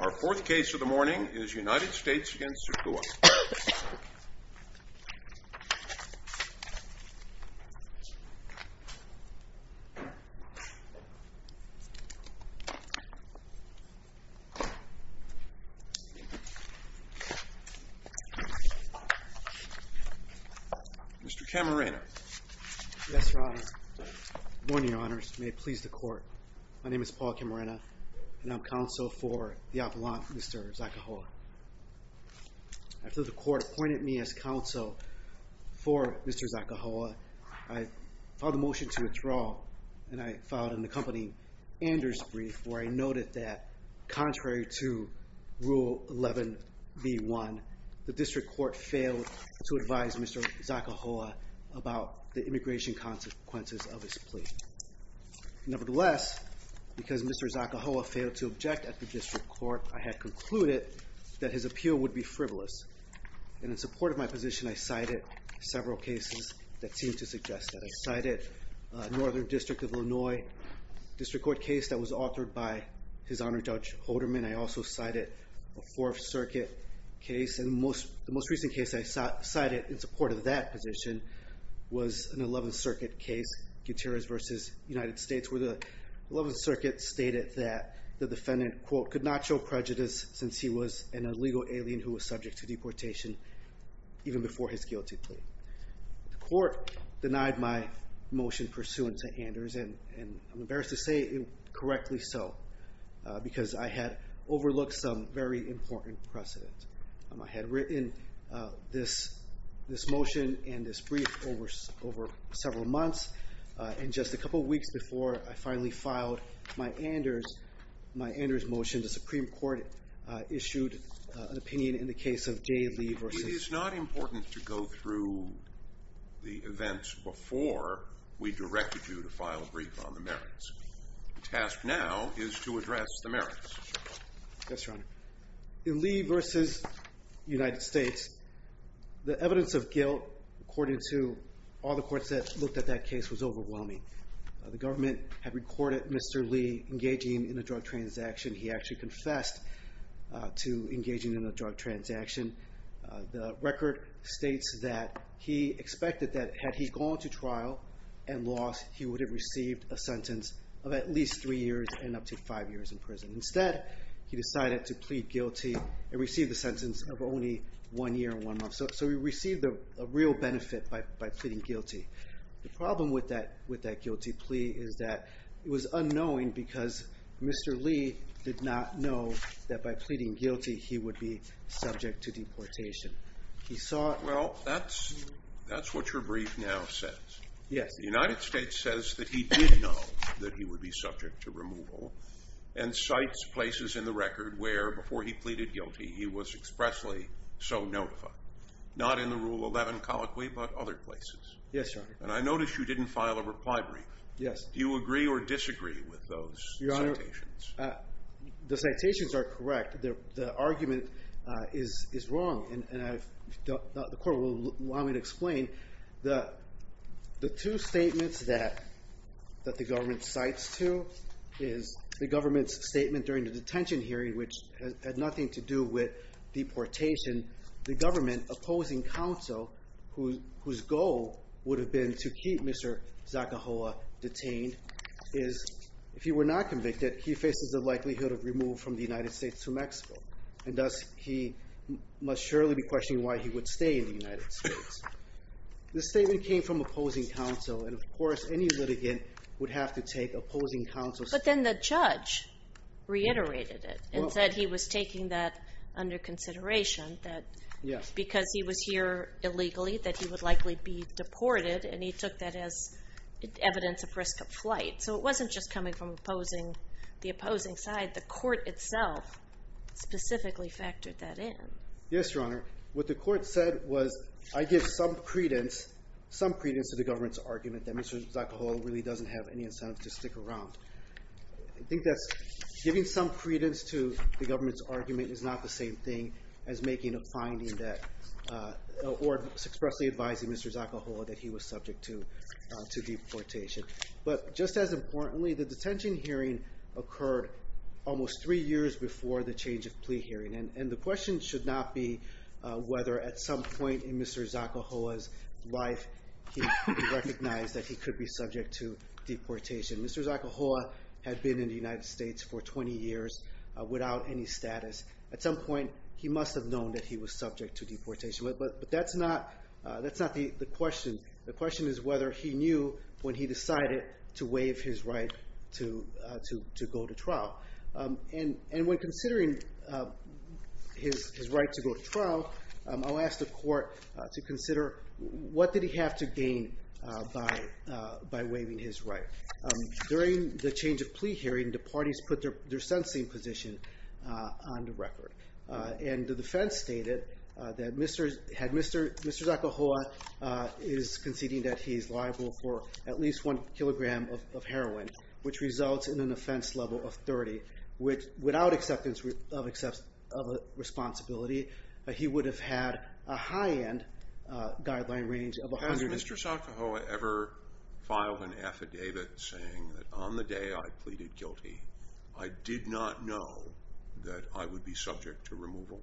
Our fourth case of the morning is United States v. Sergio Zacahua. Mr. Camarena. Yes, Your Honor. Good morning, Your Honors. May it please the Court. My name is Paul Camarena and I'm counsel for the Appellant, Mr. Zacahua. After the Court appointed me as counsel for Mr. Zacahua, I filed a motion to withdraw and I filed an accompanying Anders brief where I noted that, contrary to Rule 11b1, the District Court failed to advise Mr. Zacahua about the immigration consequences of his plea. Nevertheless, because Mr. Zacahua failed to object at the District Court, I had concluded that his appeal would be frivolous. And in support of my position, I cited several cases that seem to suggest that. I cited a Northern District of Illinois District Court case that was authored by His Honor Judge Holderman. I also cited a Fourth Circuit case and the most recent case I cited in support of that position was an Eleventh Circuit case, Gutierrez v. United States, where the Eleventh Circuit stated that the defendant, quote, could not show prejudice since he was an illegal alien who was subject to deportation even before his guilty plea. The Court denied my motion pursuant to Anders and I'm embarrassed to say it correctly so because I had overlooked some very important precedent. I had written this motion and this brief over several months and just a couple of weeks before I finally filed my Anders motion, the Supreme Court issued an opinion in the case of Jay Lee v.— It is not important to go through the events before we directed you to file a brief on the merits. The task now is to address the merits. Yes, Your Honor. In Lee v. United States, the evidence of guilt according to all the courts that looked at that case was overwhelming. The government had recorded Mr. Lee engaging in a drug transaction. He actually confessed to engaging in a drug transaction. The record states that he expected that had he gone to trial and lost, he would have received a sentence of at least three years and up to five years in prison. Instead, he decided to plead guilty and receive the sentence of only one year and one month. So he received a real benefit by pleading guilty. The problem with that guilty plea is that it was unknowing because Mr. Lee did not know that by pleading guilty he would be subject to deportation. He saw— Well, that's what your brief now says. Yes. The United States says that he did know that he would be subject to removal and cites places in the record where, before he pleaded guilty, he was expressly so notified. Not in the Rule 11 colloquy, but other places. Yes, Your Honor. And I notice you didn't file a reply brief. Yes. Do you agree or disagree with those citations? The citations are correct. The argument is wrong. And the Court will want me to explain that the two statements that the government cites to is the government's statement during the detention hearing, which had nothing to do with deportation. The government opposing counsel, whose goal would have been to keep Mr. Zakahoa detained, is if he were not convicted, he faces the likelihood of removal from the United States to Mexico. And thus, he must surely be questioning why he would stay in the United States. The statement came from opposing counsel, and of course, any litigant would have to take opposing counsel's— But then the judge reiterated it and said he was taking that under consideration, that because he was here illegally, that he would likely be deported, and he took that as evidence of risk of flight. So it wasn't just coming from the opposing side. The Court itself specifically factored that in. Yes, Your Honor. What the Court said was, I give some credence to the government's argument that Mr. Zakahoa really doesn't have any incentive to stick around. I think that's giving some credence to the government's argument is not the same thing as making a finding that—or expressly advising Mr. Zakahoa that he was subject to deportation. But just as importantly, the detention hearing occurred almost three years before the change of plea hearing. And the question should not be whether at some point in Mr. Zakahoa's life he recognized that he could be subject to deportation. Mr. Zakahoa had been in the United States for 20 years without any status. At some point, he must have known that he was subject to deportation. But that's not the question. The question is whether he knew when he decided to waive his right to go to trial. And when considering his right to go to trial, I'll ask the Court to consider what did he have to gain by waiving his right. During the change of plea hearing, the parties put their sentencing position on the record. And the defense stated that had Mr. Zakahoa is conceding that he's liable for at least one kilogram of heroin, which results in an offense level of 30, without acceptance of responsibility, he would have had a high-end guideline range of 100— Has Mr. Zakahoa ever filed an affidavit saying that on the day I pleaded guilty, I did not know that I would be subject to removal?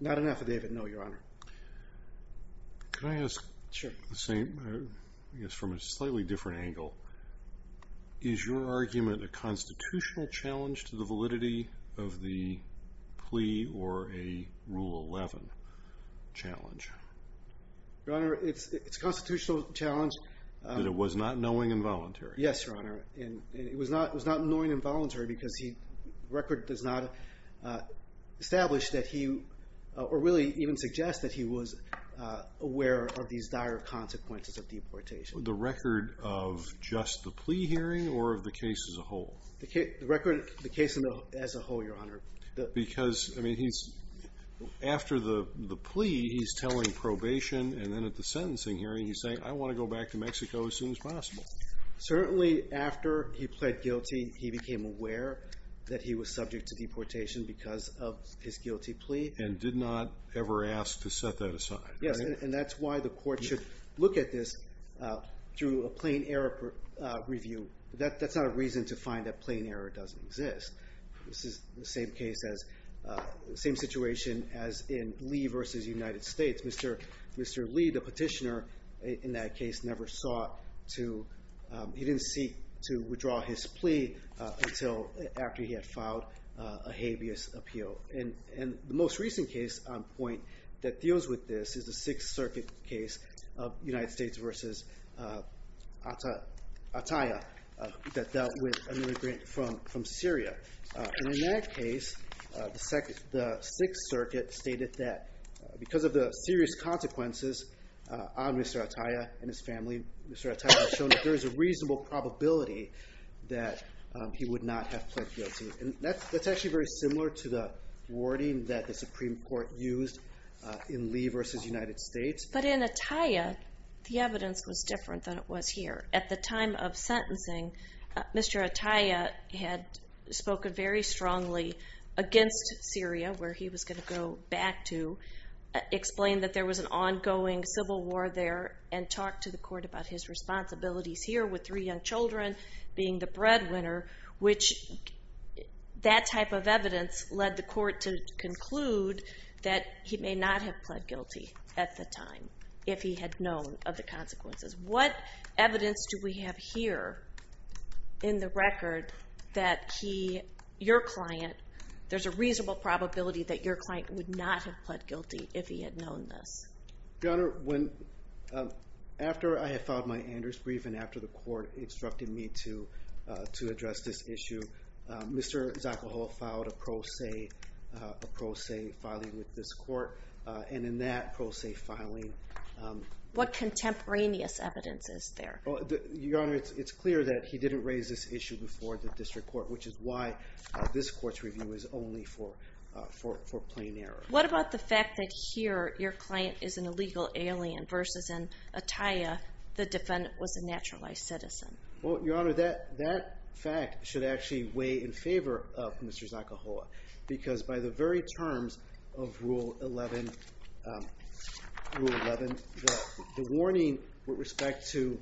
Not an affidavit, no, Your Honor. Can I ask the same, I guess from a slightly different angle? Is your argument a constitutional challenge to the validity of the plea or a Rule 11 challenge? Your Honor, it's a constitutional challenge. That it was not knowing and voluntary? Yes, Your Honor. It was not knowing and voluntary because the record does not establish that he—or really even suggest that he was aware of these dire consequences of deportation. The record of just the plea hearing or of the case as a whole? The case as a whole, Your Honor. Because after the plea, he's telling probation, and then at the sentencing hearing, he's saying, Certainly after he pled guilty, he became aware that he was subject to deportation because of his guilty plea. And did not ever ask to set that aside, right? Yes, and that's why the court should look at this through a plain error review. That's not a reason to find that plain error doesn't exist. This is the same case as—same situation as in Lee v. United States. Mr. Lee, the petitioner in that case, never sought to—he didn't seek to withdraw his plea until after he had filed a habeas appeal. And the most recent case on point that deals with this is the Sixth Circuit case of United States v. Attaya that dealt with an immigrant from Syria. And in that case, the Sixth Circuit stated that because of the serious consequences on Mr. Attaya and his family, Mr. Attaya was shown that there is a reasonable probability that he would not have pled guilty. And that's actually very similar to the wording that the Supreme Court used in Lee v. United States. But in Attaya, the evidence was different than it was here. At the time of sentencing, Mr. Attaya had spoken very strongly against Syria, where he was going to go back to, explained that there was an ongoing civil war there, and talked to the court about his responsibilities here with three young children, being the breadwinner, which—that type of evidence led the court to conclude that he may not have pled guilty at the time if he had known of the consequences. What evidence do we have here in the record that he—your client—there's a reasonable probability that your client would not have pled guilty if he had known this? Your Honor, when—after I had filed my Anders brief and after the court instructed me to address this issue, Mr. Zocohol filed a pro se—a pro se filing with this court, and in that pro se filing— What contemporaneous evidence is there? Well, Your Honor, it's clear that he didn't raise this issue before the district court, which is why this court's review is only for—for plain error. What about the fact that here, your client is an illegal alien versus in Attaya, the defendant was a naturalized citizen? Well, Your Honor, that fact should actually weigh in favor of Mr. Zocohol, because by the very terms of Rule 11—Rule 11, the warning with respect to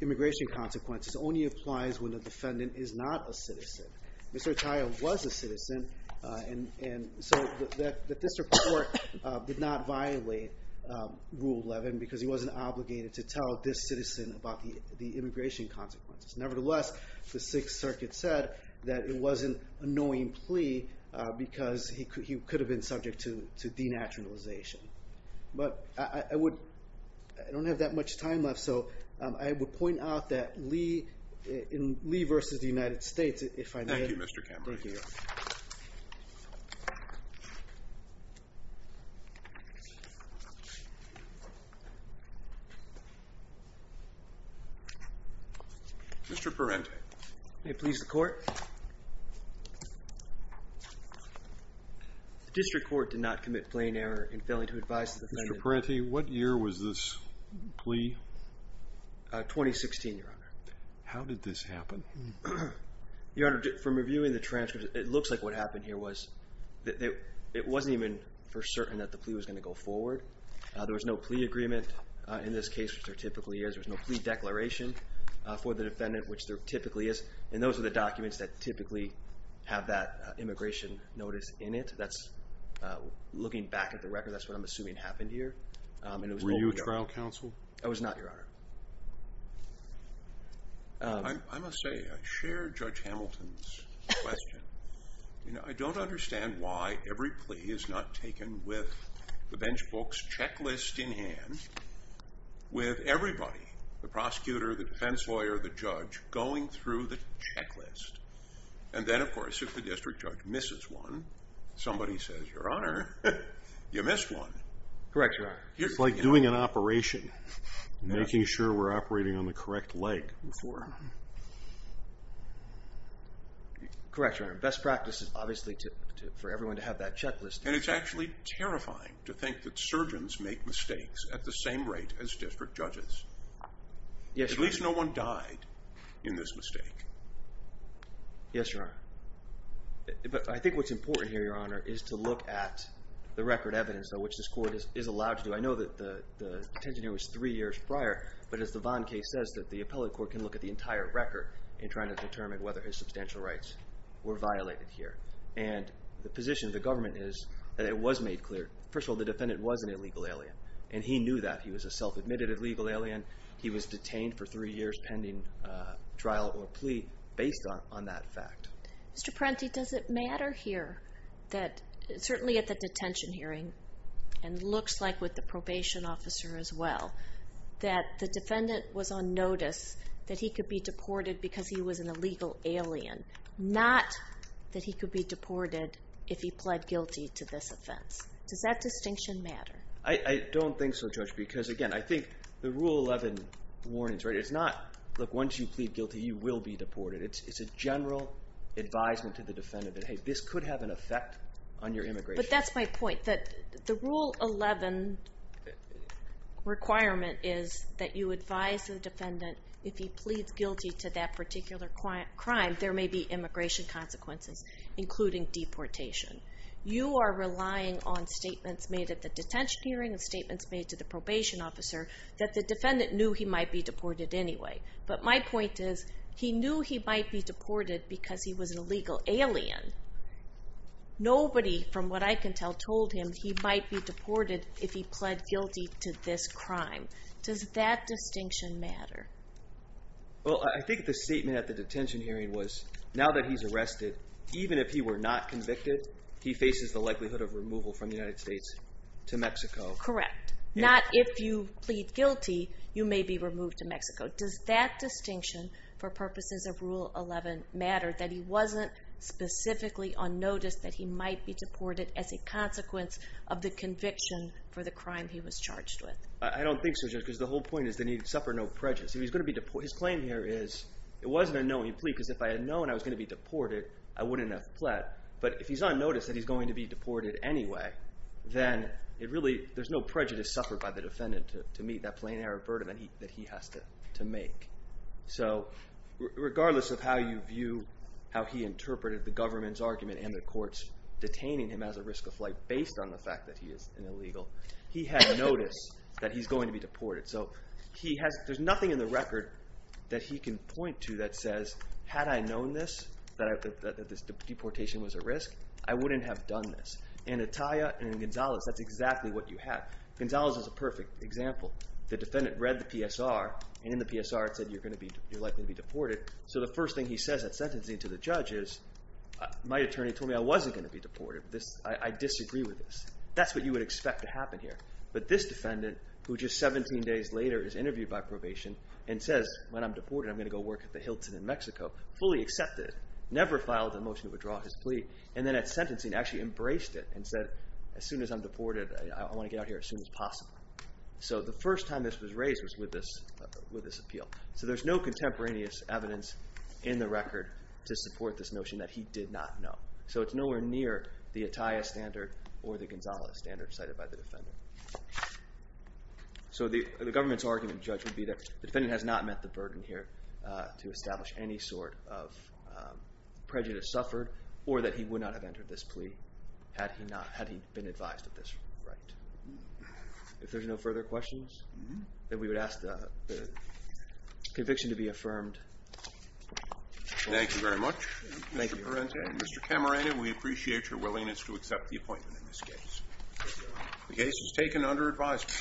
immigration consequences only applies when the defendant is not a citizen. Mr. Attaya was a citizen, and so the district court did not violate Rule 11 because he wasn't obligated to tell this citizen about the immigration consequences. Nevertheless, the Sixth Circuit said that it was an annoying plea because he could—he could have been subject to denaturalization. But I would—I don't have that much time left, so I would point out that Lee—in Lee versus the United States, if I may— Thank you, Mr. Cameron. Thank you, Your Honor. Mr. Parente. May it please the Court? The district court did not commit plain error in failing to advise the defendant— Mr. Parente, what year was this plea? 2016, Your Honor. How did this happen? Your Honor, from reviewing the transcript, it looks like what happened here was that it wasn't even for certain that the plea was going to go forward. There was no plea agreement in this case, which there typically is. There was no plea declaration for the defendant, which there typically is. And those are the documents that typically have that immigration notice in it. That's—looking back at the record, that's what I'm assuming happened here. And it was— Were you a trial counsel? I was not, Your Honor. I must say, I share Judge Hamilton's question. You know, I don't understand why every plea is not taken with the bench book's checklist in hand with everybody—the prosecutor, the defense lawyer, the judge—going through the checklist. And then, of course, if the district judge misses one, somebody says, Your Honor, you missed one. Correct, Your Honor. It's like doing an operation, making sure we're operating on the correct leg. Correct, Your Honor. Best practice is obviously for everyone to have that checklist. And it's actually terrifying to think that surgeons make mistakes at the same rate as district judges. Yes, Your Honor. At least no one died in this mistake. Yes, Your Honor. But I think what's important here, Your Honor, is to look at the record evidence of which this court is allowed to do. I know that the detention here was three years prior, but as the Vaughn case says, the appellate court can look at the entire record in trying to determine whether his substantial rights were violated here. And the position of the government is that it was made clear. First of all, the defendant was an illegal alien, and he knew that. He was a self-admitted illegal alien. He was detained for three years pending trial or plea based on that fact. Mr. Parenti, does it matter here that, certainly at the detention hearing and it looks like with the probation officer as well, that the defendant was on notice that he could be deported because he was an illegal alien, not that he could be deported if he pled guilty to this offense? Does that distinction matter? I don't think so, Judge, because, again, I think the Rule 11 warnings, it's not, look, once you plead guilty, you will be deported. It's a general advisement to the defendant that, hey, this could have an effect on your immigration. But that's my point, that the Rule 11 requirement is that you advise the defendant if he pleads guilty to that particular crime, there may be immigration consequences, including deportation. You are relying on statements made at the detention hearing and statements made to the probation officer that the defendant knew he might be deported anyway. But my point is he knew he might be deported because he was an illegal alien. Nobody, from what I can tell, told him he might be deported if he pled guilty to this crime. Does that distinction matter? Well, I think the statement at the detention hearing was now that he's arrested, even if he were not convicted, he faces the likelihood of removal from the United States to Mexico. Correct. Not if you plead guilty, you may be removed to Mexico. Does that distinction for purposes of Rule 11 matter, that he wasn't specifically on notice that he might be deported as a consequence of the conviction for the crime he was charged with? I don't think so, Judge, because the whole point is that he'd suffer no prejudice. His claim here is it was an unknowing plea because if I had known I was going to be deported, I wouldn't have pled. But if he's on notice that he's going to be deported anyway, then there's no prejudice suffered by the defendant to meet that plain error of burden that he has to make. So regardless of how you view how he interpreted the government's argument and the court's detaining him as a risk of flight based on the fact that he is an illegal, he had notice that he's going to be deported. So there's nothing in the record that he can point to that says, had I known this, that this deportation was a risk, I wouldn't have done this. In Ataya and in Gonzalez, that's exactly what you have. Gonzalez is a perfect example. The defendant read the PSR, and in the PSR it said you're likely to be deported. So the first thing he says at sentencing to the judge is, my attorney told me I wasn't going to be deported. I disagree with this. That's what you would expect to happen here. But this defendant, who just 17 days later is interviewed by probation and says, when I'm deported, I'm going to go work at the Hilton in Mexico, fully accepted, never filed a motion to withdraw his plea, and then at sentencing actually embraced it and said, as soon as I'm deported, I want to get out of here as soon as possible. So the first time this was raised was with this appeal. So there's no contemporaneous evidence in the record to support this notion that he did not know. So it's nowhere near the Ataya standard or the Gonzales standard cited by the defendant. So the government's argument, Judge, would be that the defendant has not met the burden here to establish any sort of prejudice suffered or that he would not have entered this plea had he not... had he been advised of this right. If there's no further questions, then we would ask the conviction to be affirmed. Thank you very much, Mr. Parente and Mr. Camarena. We appreciate your willingness to accept the appointment in this case. The case is taken under advisement.